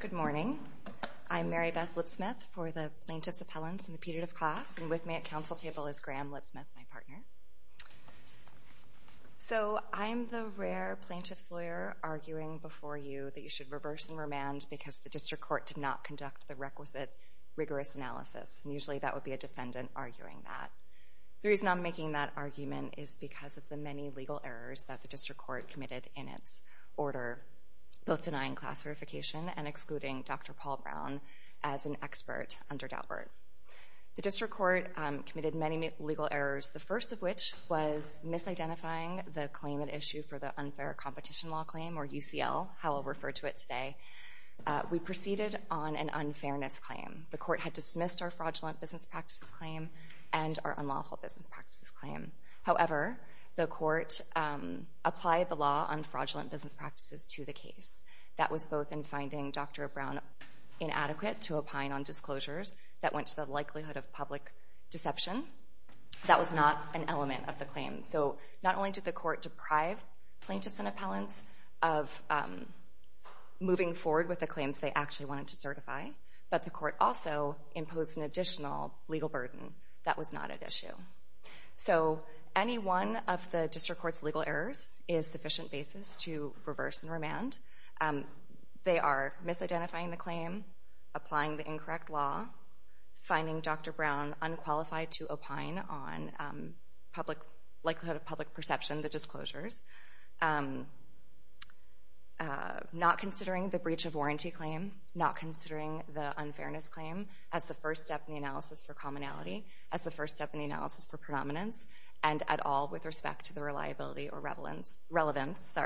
Good morning. I'm Mary Beth Lipsmith for the Plaintiff's Appellants and the Petitive Class, and with me at council table is Graham Lipsmith, my partner. So I'm the rare plaintiff's lawyer arguing before you that you should reverse and remand because the district court did not conduct the requisite rigorous analysis. And usually that would be a defendant arguing that. The reason I'm making that argument is because of the many legal errors that the district court committed in its order, both denying class verification and excluding Dr. Paul Brown as an expert under Daubert. The district court committed many legal errors, the first of which was misidentifying the claim at issue for the Unfair Competition Law Claim, or UCL, how I'll refer to it today. We proceeded on an unfairness claim. The court had dismissed our fraudulent business practices claim and our unlawful business practices claim. However, the court applied the law on fraudulent business practices to the case. That was both in finding Dr. Brown inadequate to opine on disclosures that went to the likelihood of public deception. That was not an element of the claim. So not only did the court deprive plaintiff's and appellants of moving forward with the claims they actually wanted to certify, but the court also imposed an additional legal burden that was not at issue. So any one of the district court's legal errors is sufficient basis to reverse and remand. They are misidentifying the claim, applying the incorrect law, finding Dr. Brown unqualified to opine on likelihood of public perception, the disclosures, not considering the breach of warranty claim, not considering the unfairness claim as the first step in the analysis for commonality, as the first step in the analysis for predominance, and at all with respect to the reliability or relevance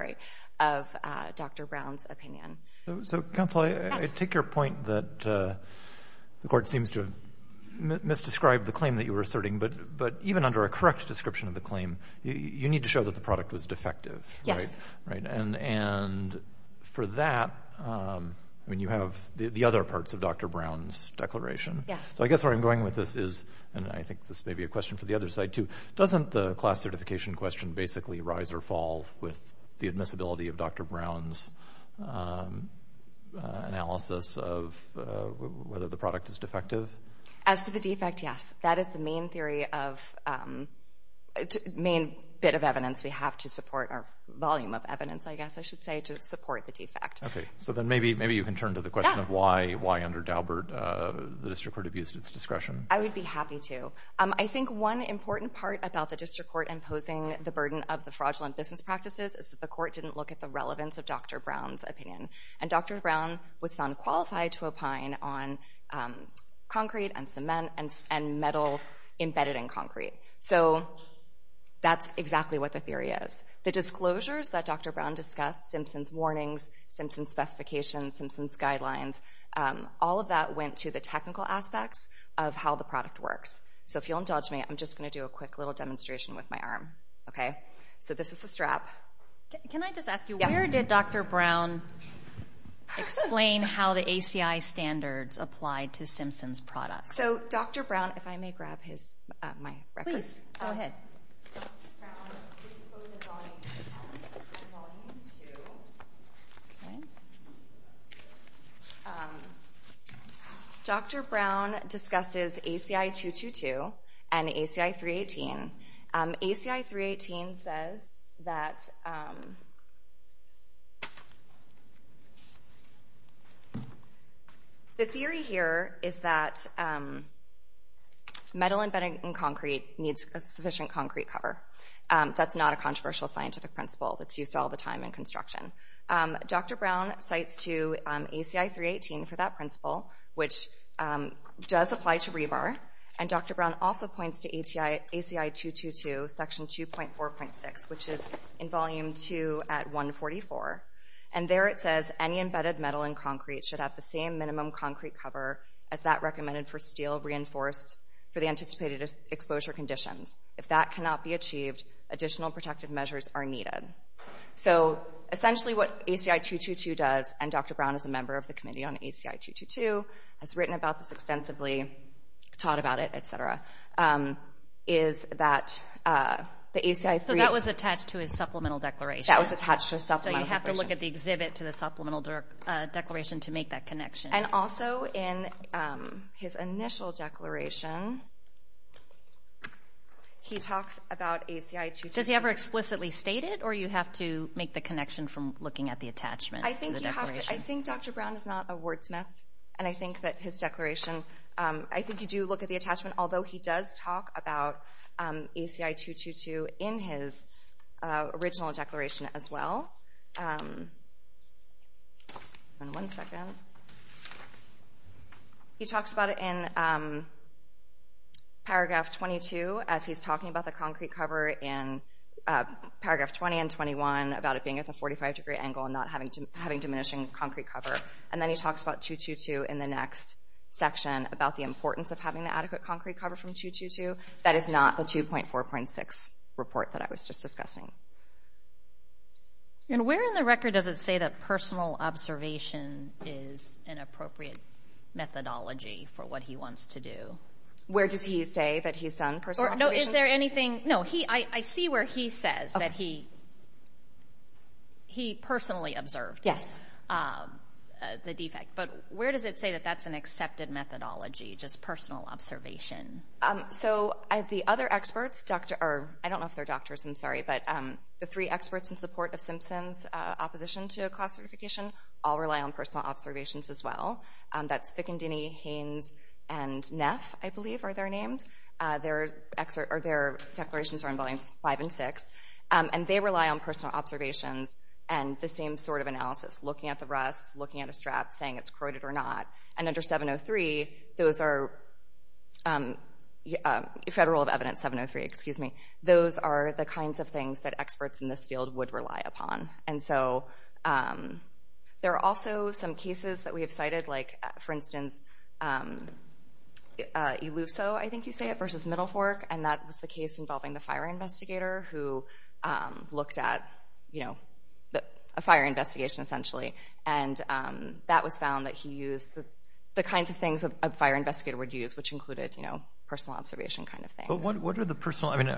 of Dr. Brown's opinion. So counsel, I take your point that the court seems to have misdescribed the claim that you were asserting, but even under a correct description of the claim, you need to show that the product was defective, right? Yes. And for that, you have the other parts of Dr. Brown's declaration. Yes. So I guess where I'm going with this is, and I think this may be a question for the other side too, doesn't the class certification question basically rise or fall with the admissibility of Dr. Brown's analysis of whether the product is defective? As to the defect, yes. That is the main theory of, main bit of evidence we have to support, or volume of evidence, I guess I should say, to support the defect. Okay, so then maybe you can turn to the question of why under Daubert the district court abused its discretion. I would be happy to. I think one important part about the district court imposing the burden of the fraudulent business practices is that the court didn't look at the relevance of Dr. Brown's opinion. And Dr. Brown was found qualified to opine on concrete and cement and metal embedded in concrete. So that's exactly what the theory is. The disclosures that Dr. Brown discussed, Simpson's warnings, Simpson's specifications, Simpson's guidelines, all of that went to the technical aspects of how the product works. So if you'll indulge me, I'm just going to do a quick little demonstration with my arm. So this is the strap. Can I just ask you, where did Dr. Brown explain how the ACI standards applied to Simpson's products? So Dr. Brown, if I may grab my record. Please, go ahead. Dr. Brown discusses ACI 222 and ACI 318. ACI 318 says that the theory here is that metal embedded in concrete needs a sufficient concrete cover. That's not a controversial scientific principle that's used all the time in construction. Dr. Brown cites to ACI 318 for that principle, which does apply to rebar. And Dr. Brown also points to ACI 222, section 2.4.6, which is in volume 2 at 144. And there it says, any embedded metal in concrete should have the same minimum concrete cover as that recommended for steel reinforced for the anticipated exposure conditions. If that cannot be achieved, additional protective measures are needed. So essentially what ACI 222 does, and Dr. Brown is a member of the committee on ACI 222, has written about this extensively, taught about it, et cetera, is that the ACI 318... So that was attached to his supplemental declaration. That was attached to his supplemental declaration. So you have to look at the exhibit to the supplemental declaration to make that connection. And also in his initial declaration, he talks about ACI 222... Does he ever explicitly state it, or you have to make the connection from looking at the attachment? I think Dr. Brown is not a wordsmith, and I think that his declaration... I think you do look at the attachment, although he does talk about ACI 222 in his original declaration as well. One second. He talks about it in paragraph 22, as he's talking about the concrete cover in paragraph 20 and 21, about it being at the 45-degree angle and not having diminishing concrete cover. And then he talks about 222 in the next section, about the importance of having the adequate concrete cover from 222. That is not the 2.4.6 report that I was just discussing. And where in the record does it say that personal observation is an appropriate methodology for what he wants to do? Where does he say that he's done personal observation? No, I see where he says that he personally observed the defect, but where does it say that that's an accepted methodology, just personal observation? So the other experts, I don't know if they're doctors, I'm sorry, but the three experts in support of Simpson's opposition to a class certification all rely on personal observations as well. That's Spicandini, Haynes, and Neff, I believe are their names. Their declarations are in volumes five and six. And they rely on personal observations and the same sort of analysis, looking at the rust, looking at a strap, saying it's corroded or not. And under 703, Federal of Evidence 703, those are the kinds of things that experts in this field would rely upon. And so there are also some cases that we have cited, like, for instance, Eluso, I think you say it, versus Middle Fork. And that was the case involving the fire investigator who looked at a fire investigation, essentially. And that was found that he used the kinds of things a fire investigator would use, which included personal observation kind of things. But what are the personal? I mean,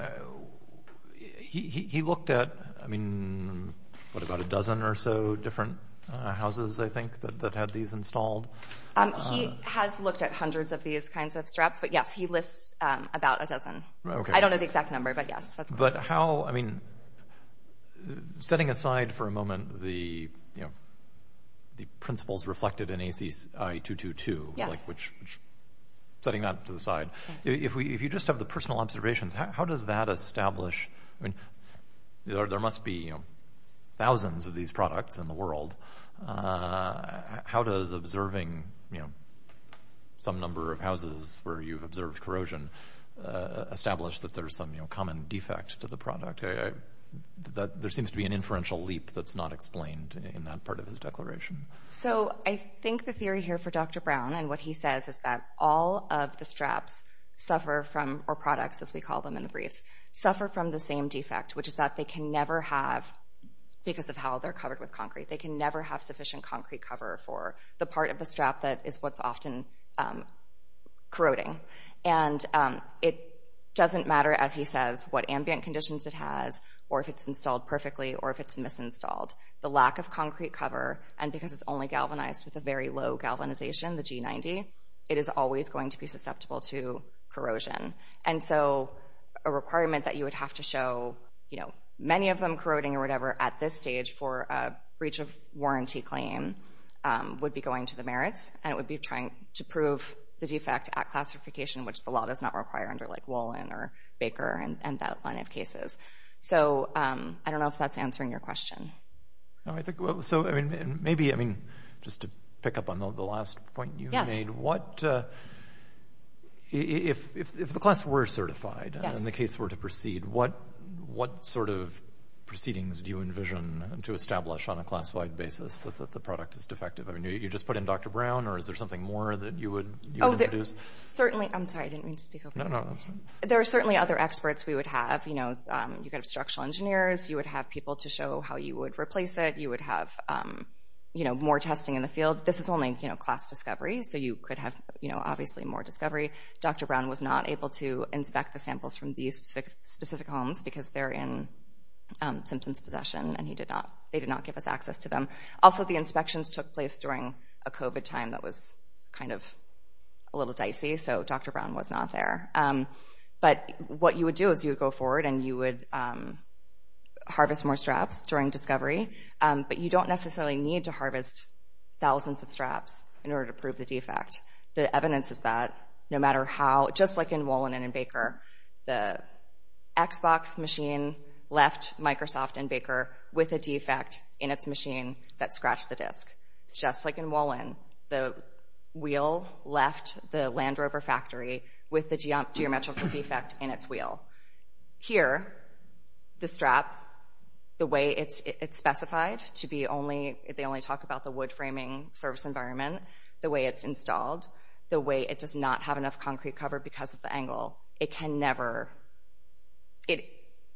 he looked at, I mean, what, about a dozen or so different houses, I think, that had these installed? He has looked at hundreds of these kinds of straps. But, yes, he lists about a dozen. I don't know the exact number, but, yes, that's close enough. But how, I mean, setting aside for a moment the principles reflected in ACI 222, which, setting that to the side, if you just have the personal observations, how does that establish? I mean, there must be, you know, thousands of these products in the world. How does observing, you know, some number of houses where you've observed corrosion establish that there's some, you know, common defect to the product? There seems to be an inferential leap that's not explained in that part of his declaration. So I think the theory here for Dr. Brown and what he says is that all of the straps suffer from, or products as we call them in the briefs, suffer from the same defect, which is that they can never have, because of how they're covered with concrete, they can never have sufficient concrete cover for the part of the strap that is what's often corroding. And it doesn't matter, as he says, what ambient conditions it has or if it's installed perfectly or if it's misinstalled. The lack of concrete cover, and because it's only galvanized with a very low galvanization, the G90, it is always going to be susceptible to corrosion. And so a requirement that you would have to show, you know, many of them corroding or whatever at this stage for a breach of warranty claim would be going to the merits, and it would be trying to prove the defect at classification, which the law does not require under, like, Wolin or Baker and that line of cases. So I don't know if that's answering your question. So, I mean, maybe, I mean, just to pick up on the last point you made. Yes. What, if the class were certified and the case were to proceed, what sort of proceedings do you envision to establish on a classified basis that the product is defective? I mean, you just put in Dr. Brown, or is there something more that you would introduce? Certainly, I'm sorry, I didn't mean to speak over you. No, no, that's fine. There are certainly other experts we would have. You know, you could have structural engineers. You would have people to show how you would replace it. You would have, you know, more testing in the field. This is only, you know, class discovery, so you could have, you know, obviously more discovery. Dr. Brown was not able to inspect the samples from these specific homes because they're in Simpson's possession, and he did not, they did not give us access to them. Also, the inspections took place during a COVID time that was kind of a little dicey, so Dr. Brown was not there. But what you would do is you would go forward and you would harvest more straps during discovery, but you don't necessarily need to harvest thousands of straps in order to prove the defect. The evidence is that no matter how, just like in Wolin and in Baker, the Xbox machine left Microsoft and Baker with a defect in its machine that scratched the disk. Just like in Wolin, the wheel left the Land Rover factory with the geometrical defect in its wheel. Here, the strap, the way it's specified to be only, they only talk about the wood framing service environment, the way it's installed, the way it does not have enough concrete cover because of the angle, it can never,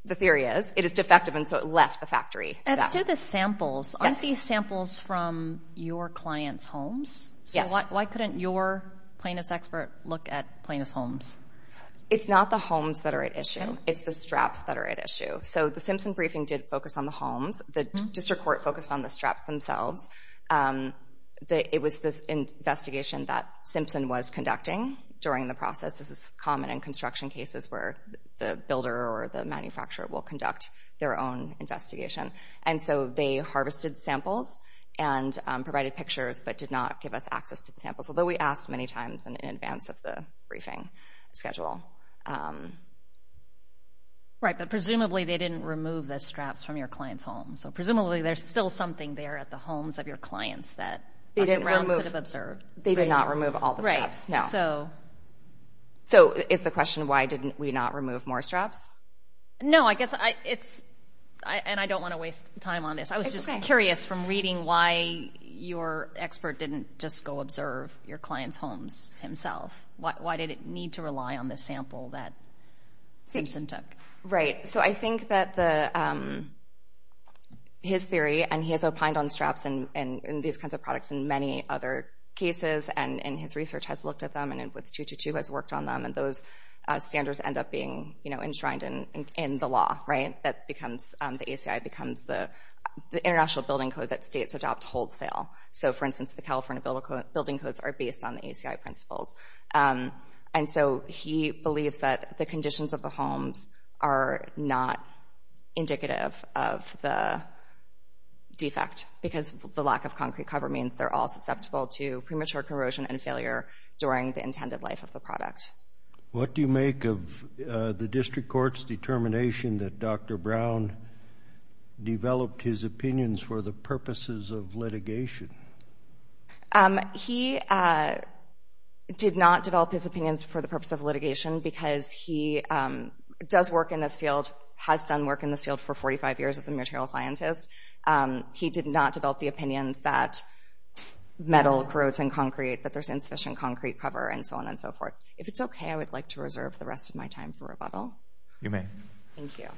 the theory is, it is defective, and so it left the factory. Let's do the samples. Aren't these samples from your client's homes? Yes. So why couldn't your plaintiff's expert look at plaintiff's homes? It's not the homes that are at issue. It's the straps that are at issue. So the Simpson briefing did focus on the homes. The district court focused on the straps themselves. It was this investigation that Simpson was conducting during the process. This is common in construction cases where the builder or the manufacturer will conduct their own investigation. And so they harvested samples and provided pictures but did not give us access to the samples, although we asked many times in advance of the briefing schedule. Right, but presumably they didn't remove the straps from your client's home. So presumably there's still something there at the homes of your clients that the ground could have observed. They did not remove all the straps, no. So is the question why didn't we not remove more straps? No, I guess it's, and I don't want to waste time on this. I was just curious from reading why your expert didn't just go observe your client's homes himself. Why did it need to rely on the sample that Simpson took? Right, so I think that his theory, and he has opined on straps and these kinds of products in many other cases, and his research has looked at them and with 222 has worked on them, and those standards end up being enshrined in the law, right? That becomes, the ACI becomes the international building code that states adopt wholesale. So, for instance, the California building codes are based on the ACI principles. And so he believes that the conditions of the homes are not indicative of the defect because the lack of concrete cover means they're all susceptible to premature corrosion and failure during the intended life of the product. What do you make of the district court's determination that Dr. Brown developed his opinions for the purposes of litigation? He did not develop his opinions for the purpose of litigation because he does work in this field, has done work in this field for 45 years as a material scientist. He did not develop the opinions that metal corrodes in concrete, that there's insufficient concrete cover, and so on and so forth. If it's okay, I would like to reserve the rest of my time for rebuttal. You may. Thank you.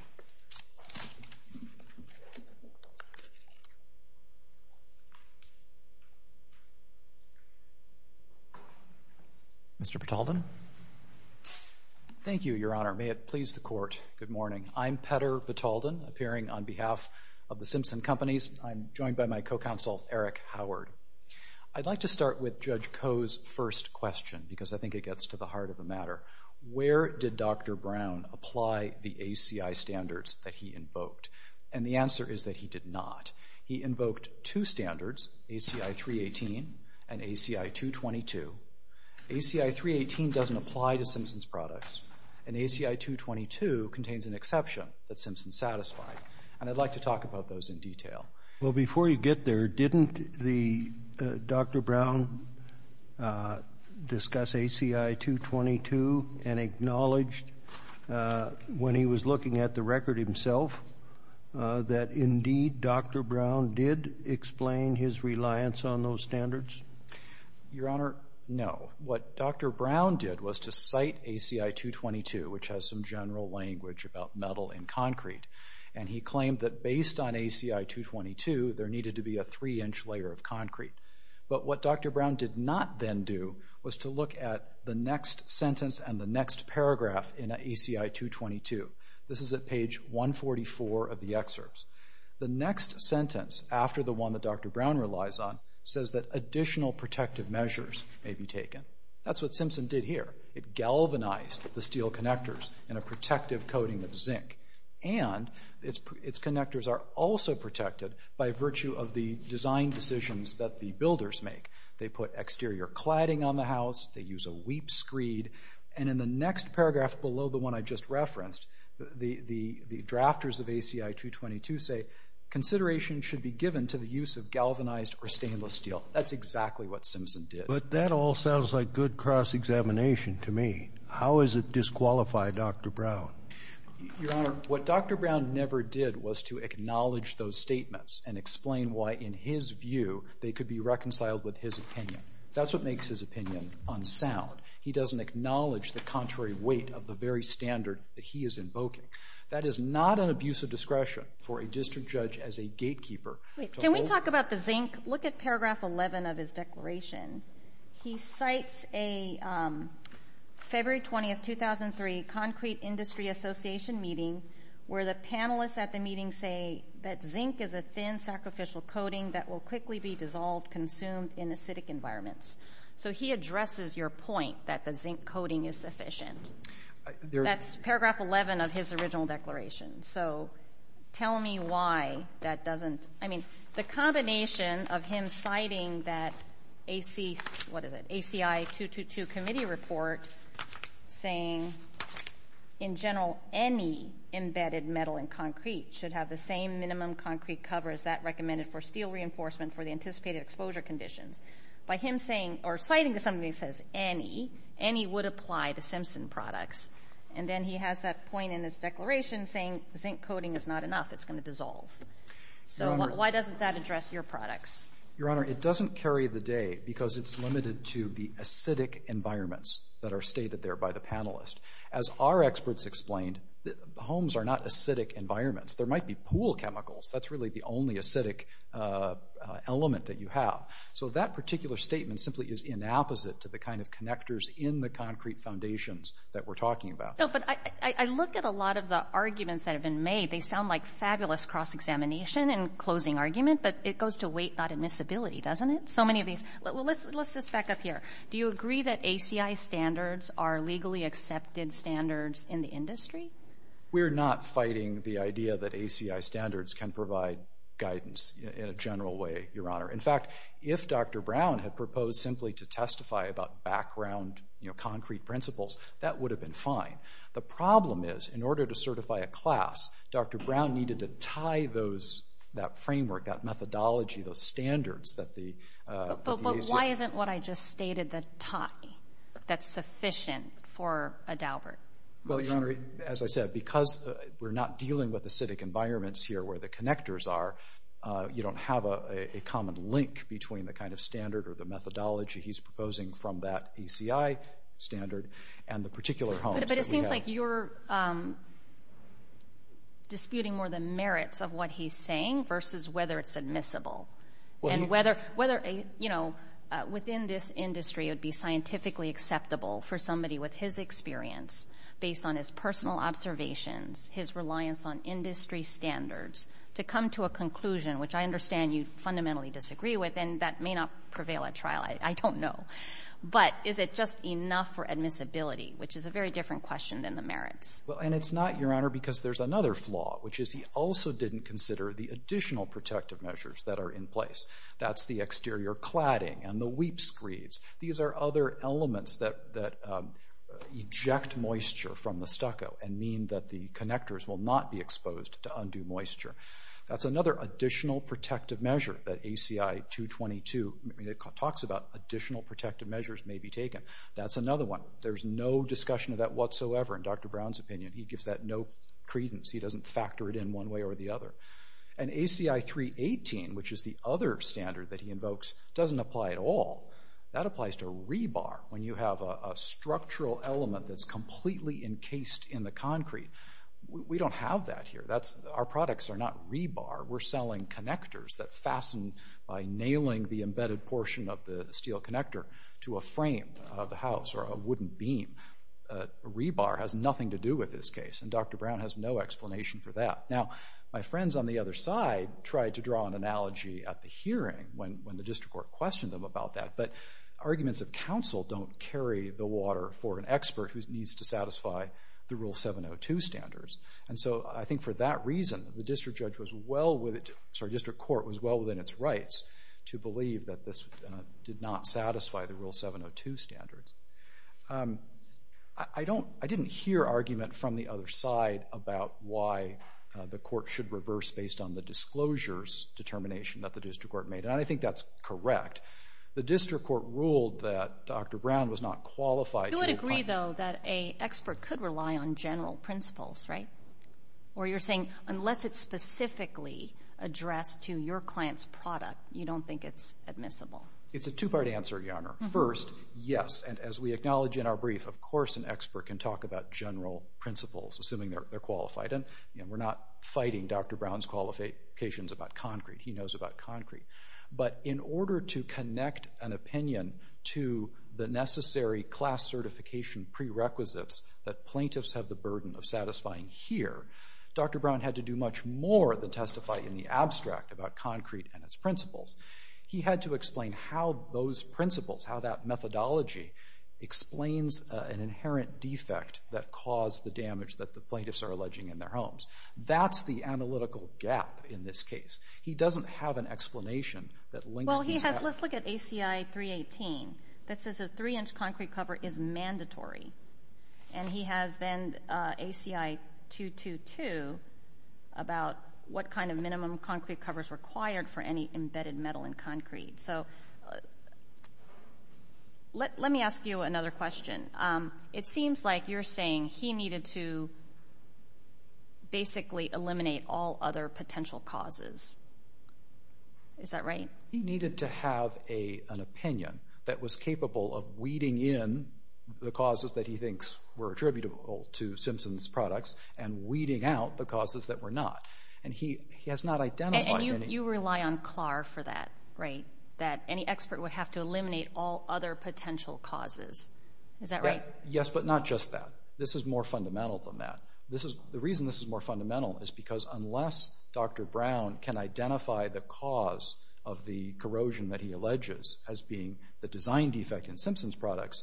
Mr. Pataldon? Thank you, Your Honor. May it please the Court, good morning. I'm Petter Pataldon, appearing on behalf of the Simpson Companies. I'm joined by my co-counsel, Eric Howard. I'd like to start with Judge Koh's first question because I think it gets to the heart of the matter. Where did Dr. Brown apply the ACI standards that he invoked? And the answer is that he did not. He invoked two standards, ACI 318 and ACI 222. ACI 318 doesn't apply to Simpson's products, and ACI 222 contains an exception that Simpson satisfied. And I'd like to talk about those in detail. Well, before you get there, didn't Dr. Brown discuss ACI 222 and acknowledge when he was looking at the record himself that, indeed, Dr. Brown did explain his reliance on those standards? Your Honor, no. What Dr. Brown did was to cite ACI 222, which has some general language about metal and concrete, and he claimed that based on ACI 222, there needed to be a three-inch layer of concrete. But what Dr. Brown did not then do was to look at the next sentence and the next paragraph in ACI 222. This is at page 144 of the excerpts. The next sentence, after the one that Dr. Brown relies on, says that additional protective measures may be taken. That's what Simpson did here. It galvanized the steel connectors in a protective coating of zinc, and its connectors are also protected by virtue of the design decisions that the builders make. They put exterior cladding on the house. They use a weep screed. And in the next paragraph below the one I just referenced, the drafters of ACI 222 say, consideration should be given to the use of galvanized or stainless steel. That's exactly what Simpson did. But that all sounds like good cross-examination to me. How does it disqualify Dr. Brown? Your Honor, what Dr. Brown never did was to acknowledge those statements and explain why, in his view, they could be reconciled with his opinion. That's what makes his opinion unsound. He doesn't acknowledge the contrary weight of the very standard that he is invoking. That is not an abuse of discretion for a district judge as a gatekeeper. Can we talk about the zinc? Look at paragraph 11 of his declaration. He cites a February 20, 2003, Concrete Industry Association meeting, where the panelists at the meeting say that zinc is a thin, sacrificial coating that will quickly be dissolved, consumed in acidic environments. So he addresses your point that the zinc coating is sufficient. That's paragraph 11 of his original declaration. So tell me why that doesn't – I mean, the combination of him citing that AC – what is it, ACI 222 committee report saying, in general, any embedded metal in concrete should have the same minimum concrete cover as that recommended for steel reinforcement for the anticipated exposure conditions. By him saying – or citing something that says any, any would apply to Simpson products. And then he has that point in his declaration saying zinc coating is not enough. It's going to dissolve. So why doesn't that address your products? Your Honor, it doesn't carry the day because it's limited to the acidic environments that are stated there by the panelists. As our experts explained, homes are not acidic environments. There might be pool chemicals. That's really the only acidic element that you have. So that particular statement simply is in opposite to the kind of connectors in the concrete foundations that we're talking about. No, but I look at a lot of the arguments that have been made. They sound like fabulous cross-examination and closing argument, but it goes to weight, not admissibility, doesn't it? So many of these – let's just back up here. Do you agree that ACI standards are legally accepted standards in the industry? We're not fighting the idea that ACI standards can provide guidance in a general way, Your Honor. In fact, if Dr. Brown had proposed simply to testify about background concrete principles, that would have been fine. The problem is, in order to certify a class, Dr. Brown needed to tie that framework, that methodology, those standards that the ACI – But why isn't what I just stated the tie that's sufficient for a Daubert? Well, Your Honor, as I said, because we're not dealing with acidic environments here where the connectors are, you don't have a common link between the kind of standard or the methodology he's proposing from that ACI standard and the particular homes that we have. But it seems like you're disputing more the merits of what he's saying versus whether it's admissible and whether, you know, within this industry, it would be scientifically acceptable for somebody with his experience, based on his personal observations, his reliance on industry standards, to come to a conclusion, which I understand you fundamentally disagree with, and that may not prevail at trial. I don't know. But is it just enough for admissibility, which is a very different question than the merits? Well, and it's not, Your Honor, because there's another flaw, which is he also didn't consider the additional protective measures that are in place. That's the exterior cladding and the weep screeds. These are other elements that eject moisture from the stucco and mean that the connectors will not be exposed to undue moisture. That's another additional protective measure that ACI 222 talks about, additional protective measures may be taken. That's another one. There's no discussion of that whatsoever in Dr. Brown's opinion. He gives that no credence. He doesn't factor it in one way or the other. And ACI 318, which is the other standard that he invokes, doesn't apply at all. That applies to rebar when you have a structural element that's completely encased in the concrete. We don't have that here. Our products are not rebar. We're selling connectors that fasten by nailing the embedded portion of the steel connector to a frame of the house or a wooden beam. Rebar has nothing to do with this case, and Dr. Brown has no explanation for that. Now, my friends on the other side tried to draw an analogy at the hearing when the district court questioned them about that. But arguments of counsel don't carry the water for an expert who needs to satisfy the Rule 702 standards. And so I think for that reason, the district court was well within its rights to believe that this did not satisfy the Rule 702 standards. I didn't hear argument from the other side about why the court should reverse based on the disclosures determination that the district court made. And I think that's correct. The district court ruled that Dr. Brown was not qualified. You would agree, though, that an expert could rely on general principles, right? Or you're saying unless it's specifically addressed to your client's product, you don't think it's admissible? It's a two-part answer, Your Honor. First, yes. And as we acknowledge in our brief, of course an expert can talk about general principles, assuming they're qualified. And we're not fighting Dr. Brown's qualifications about concrete. He knows about concrete. But in order to connect an opinion to the necessary class certification prerequisites that plaintiffs have the burden of satisfying here, Dr. Brown had to do much more than testify in the abstract about concrete and its principles. He had to explain how those principles, how that methodology, explains an inherent defect that caused the damage that the plaintiffs are alleging in their homes. That's the analytical gap in this case. He doesn't have an explanation that links these two. Well, let's look at ACI 318. That says a three-inch concrete cover is mandatory. And he has then ACI 222 about what kind of minimum concrete cover is required for any embedded metal in concrete. So let me ask you another question. It seems like you're saying he needed to basically eliminate all other potential causes. Is that right? He needed to have an opinion that was capable of weeding in the causes that he thinks were attributable to Simpson's products and weeding out the causes that were not. And he has not identified any. And you rely on CLAR for that, right? That any expert would have to eliminate all other potential causes. Is that right? Yes, but not just that. This is more fundamental than that. The reason this is more fundamental is because unless Dr. Brown can identify the cause of the corrosion that he alleges as being the design defect in Simpson's products,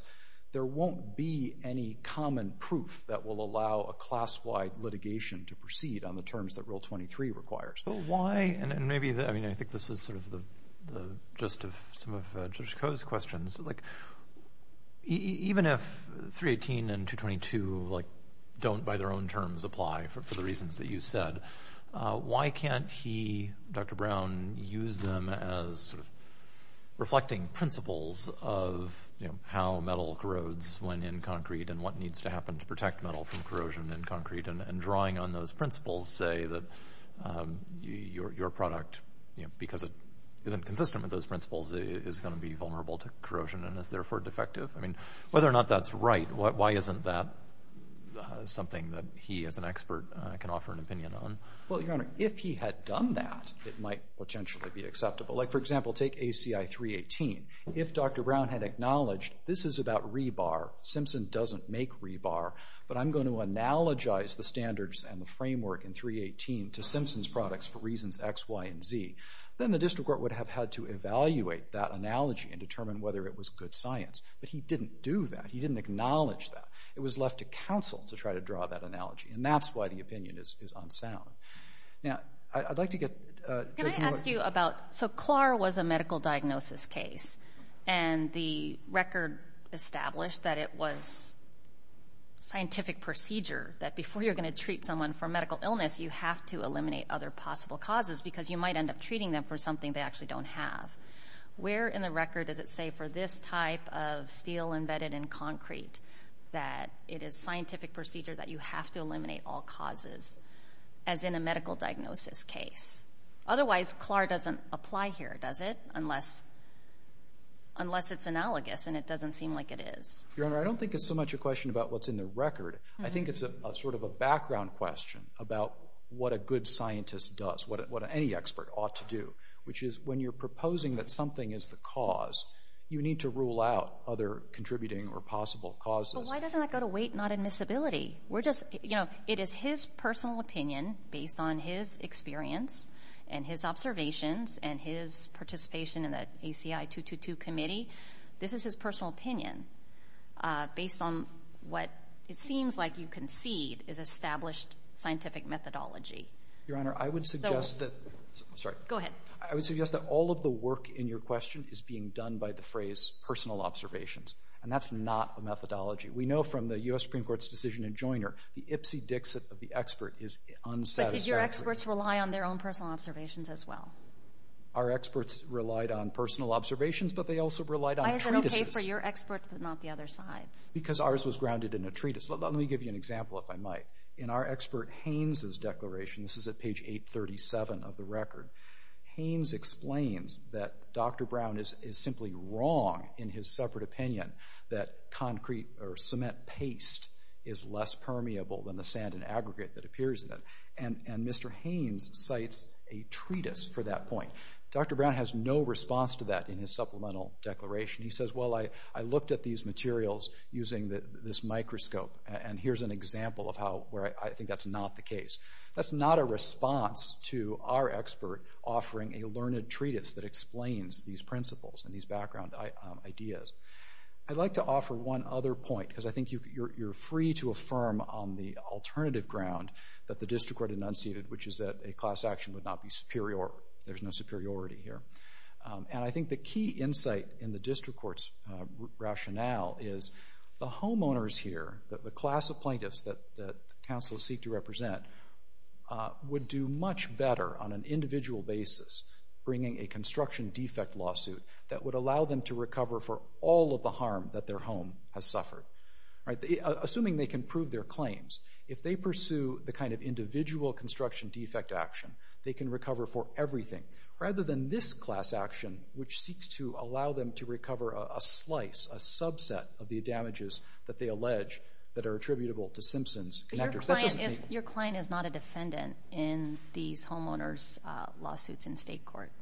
there won't be any common proof that will allow a class-wide litigation to proceed on the terms that Rule 23 requires. I think this was sort of the gist of some of Judge Koh's questions. Even if 318 and 222 don't by their own terms apply for the reasons that you said, why can't he, Dr. Brown, use them as reflecting principles of how metal corrodes when in concrete and what needs to happen to protect metal from corrosion in concrete and drawing on those principles say that your product, because it isn't consistent with those principles, is going to be vulnerable to corrosion and is therefore defective? I mean, whether or not that's right, why isn't that something that he as an expert can offer an opinion on? Well, Your Honor, if he had done that, it might potentially be acceptable. Like, for example, take ACI 318. If Dr. Brown had acknowledged this is about rebar, Simpson doesn't make rebar, but I'm going to analogize the standards and the framework in 318 to Simpson's products for reasons X, Y, and Z, then the district court would have had to evaluate that analogy and determine whether it was good science. But he didn't do that. He didn't acknowledge that. It was left to counsel to try to draw that analogy, and that's why the opinion is unsound. Now, I'd like to get Judge Moore. So CLAR was a medical diagnosis case, and the record established that it was scientific procedure, that before you're going to treat someone for medical illness, you have to eliminate other possible causes because you might end up treating them for something they actually don't have. Where in the record does it say for this type of steel embedded in concrete that it is scientific procedure that you have to eliminate all causes, as in a medical diagnosis case? Otherwise, CLAR doesn't apply here, does it, unless it's analogous and it doesn't seem like it is. Your Honor, I don't think it's so much a question about what's in the record. I think it's sort of a background question about what a good scientist does, what any expert ought to do, which is when you're proposing that something is the cause, you need to rule out other contributing or possible causes. But why doesn't that go to weight, not admissibility? It is his personal opinion based on his experience and his observations and his participation in the ACI 222 Committee. This is his personal opinion based on what it seems like you concede is established scientific methodology. Your Honor, I would suggest that all of the work in your question is being done by the phrase personal observations, and that's not a methodology. We know from the U.S. Supreme Court's decision in Joyner, the ipsy-dixit of the expert is unsatisfactory. But did your experts rely on their own personal observations as well? Our experts relied on personal observations, but they also relied on treatises. Why is it okay for your expert but not the other side's? Because ours was grounded in a treatise. Let me give you an example, if I might. In our expert Haynes's declaration, this is at page 837 of the record, Haynes explains that Dr. Brown is simply wrong in his separate opinion that concrete or cement paste is less permeable than the sand and aggregate that appears in it. And Mr. Haynes cites a treatise for that point. Dr. Brown has no response to that in his supplemental declaration. He says, well, I looked at these materials using this microscope, and here's an example of where I think that's not the case. That's not a response to our expert offering a learned treatise that explains these principles and these background ideas. I'd like to offer one other point, because I think you're free to affirm on the alternative ground that the district court enunciated, which is that a class action would not be superior. There's no superiority here. And I think the key insight in the district court's rationale is the homeowners here, the class of plaintiffs that counselors seek to represent, would do much better on an individual basis bringing a construction defect lawsuit that would allow them to recover for all of the harm that their home has suffered. Assuming they can prove their claims, if they pursue the kind of individual construction defect action, they can recover for everything. Rather than this class action, which seeks to allow them to recover a slice, a subset of the damages that they allege that are attributable to Simpson's connectors. Your client is not a defendant in these homeowners' lawsuits in state court.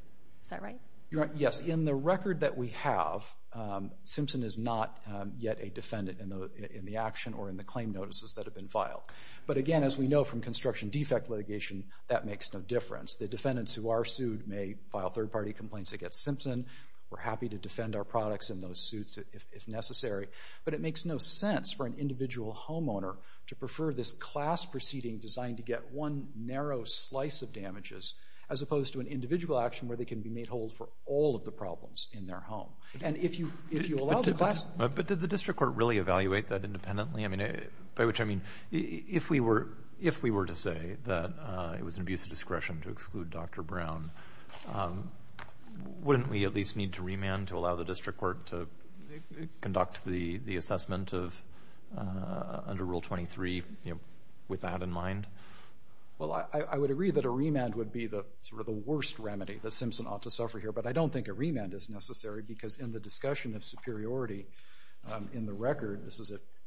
Is that right? Yes. In the record that we have, Simpson is not yet a defendant in the action or in the claim notices that have been filed. But again, as we know from construction defect litigation, that makes no difference. The defendants who are sued may file third-party complaints against Simpson. We're happy to defend our products in those suits if necessary. But it makes no sense for an individual homeowner to prefer this class proceeding designed to get one narrow slice of damages as opposed to an individual action where they can be made whole for all of the problems in their home. And if you allow the class— But did the district court really evaluate that independently? I mean, by which I mean, if we were to say that it was an abuse of discretion to exclude Dr. Brown, wouldn't we at least need to remand to allow the district court to conduct the assessment under Rule 23 with that in mind? Well, I would agree that a remand would be sort of the worst remedy that Simpson ought to suffer here, but I don't think a remand is necessary because in the discussion of superiority in the record—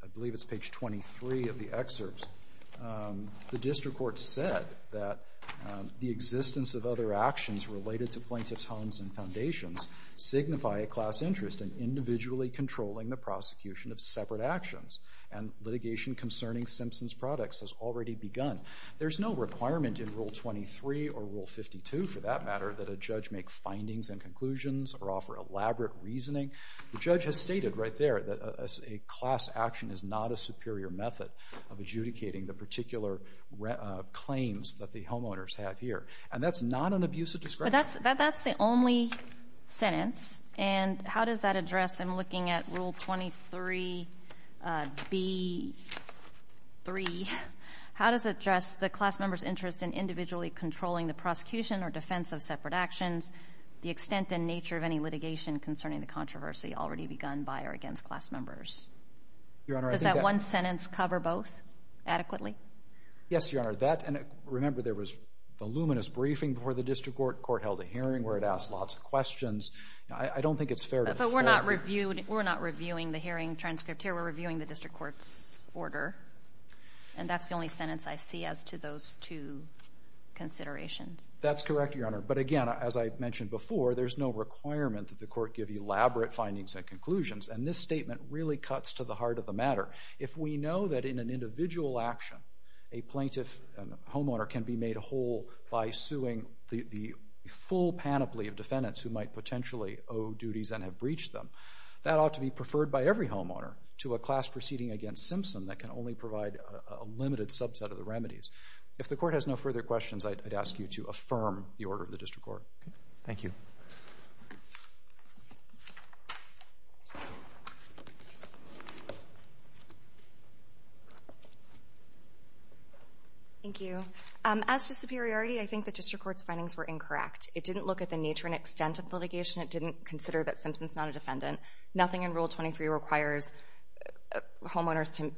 I believe it's page 23 of the excerpts— the district court said that the existence of other actions related to plaintiffs' homes and foundations signify a class interest in individually controlling the prosecution of separate actions, and litigation concerning Simpson's products has already begun. There's no requirement in Rule 23 or Rule 52, for that matter, that a judge make findings and conclusions or offer elaborate reasoning. The judge has stated right there that a class action is not a superior method of adjudicating the particular claims that the homeowners have here, and that's not an abuse of discretion. But that's the only sentence, and how does that address, in looking at Rule 23b-3, how does it address the class member's interest in individually controlling the prosecution or defense of separate actions, the extent and nature of any litigation concerning the controversy already begun by or against class members? Your Honor, I think that— Does that one sentence cover both adequately? Yes, Your Honor. Remember, there was voluminous briefing before the district court. The court held a hearing where it asked lots of questions. I don't think it's fair to— But we're not reviewing the hearing transcript here. We're reviewing the district court's order, and that's the only sentence I see as to those two considerations. That's correct, Your Honor, but again, as I mentioned before, there's no requirement that the court give elaborate findings and conclusions, and this statement really cuts to the heart of the matter. If we know that in an individual action a plaintiff, a homeowner, can be made whole by suing the full panoply of defendants who might potentially owe duties and have breached them, that ought to be preferred by every homeowner to a class proceeding against Simpson that can only provide a limited subset of the remedies. If the court has no further questions, I'd ask you to affirm the order of the district court. Thank you. Thank you. As to superiority, I think the district court's findings were incorrect. It didn't look at the nature and extent of litigation. It didn't consider that Simpson's not a defendant. Nothing in Rule 23 requires homeowners to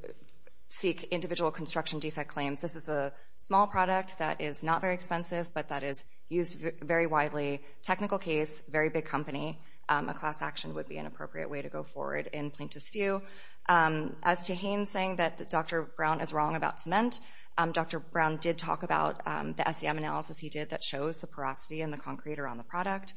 seek individual construction defect claims. This is a small product that is not very expensive, but that is used very widely, technical case, very big company. A class action would be an appropriate way to go forward in plaintiff's view. As to Haines saying that Dr. Brown is wrong about cement, Dr. Brown did talk about the SEM analysis he did that shows the porosity and the concrete around the product.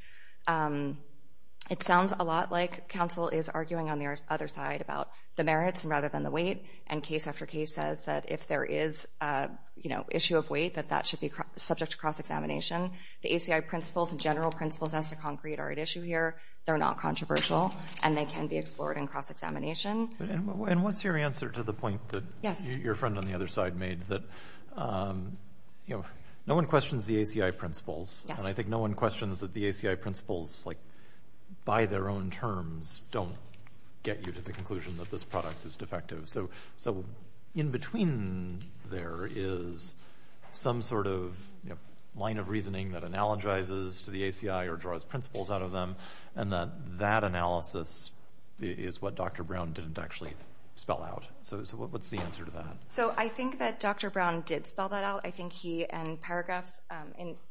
It sounds a lot like counsel is arguing on the other side about the merits rather than the weight, and case after case says that if there is, you know, issue of weight, that that should be subject to cross-examination. The ACI principles and general principles as to concrete are at issue here. They're not controversial, and they can be explored in cross-examination. And what's your answer to the point that your friend on the other side made, that, you know, no one questions the ACI principles, and I think no one questions that the ACI principles, like, by their own terms, don't get you to the conclusion that this product is defective. So in between there is some sort of line of reasoning that analogizes to the ACI or draws principles out of them, and that that analysis is what Dr. Brown didn't actually spell out. So what's the answer to that? So I think that Dr. Brown did spell that out. I think he, in paragraphs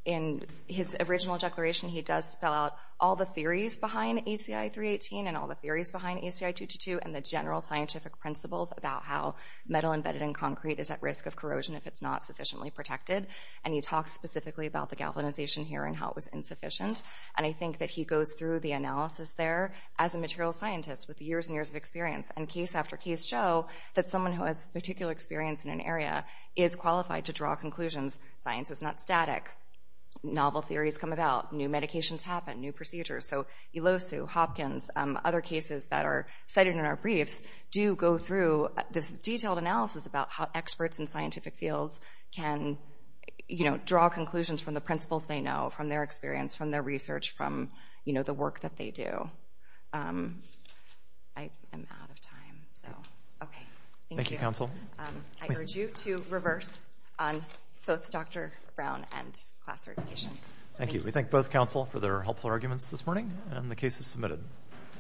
in his original declaration, he does spell out all the theories behind ACI 318 and all the theories behind ACI 222 and the general scientific principles about how metal embedded in concrete is at risk of corrosion if it's not sufficiently protected. And he talks specifically about the galvanization here and how it was insufficient. And I think that he goes through the analysis there as a material scientist with years and years of experience, and case after case show that someone who has particular experience in an area is qualified to draw conclusions. Science is not static. Novel theories come about. New medications happen. New procedures. So ELOSU, Hopkins, other cases that are cited in our briefs do go through this detailed analysis about how experts in scientific fields can draw conclusions from the principles they know, from their experience, from their research, from the work that they do. I am out of time. Okay. Thank you. I urge you to reverse on both Dr. Brown and class certification. Thank you. We thank both counsel for their helpful arguments this morning, and the case is submitted.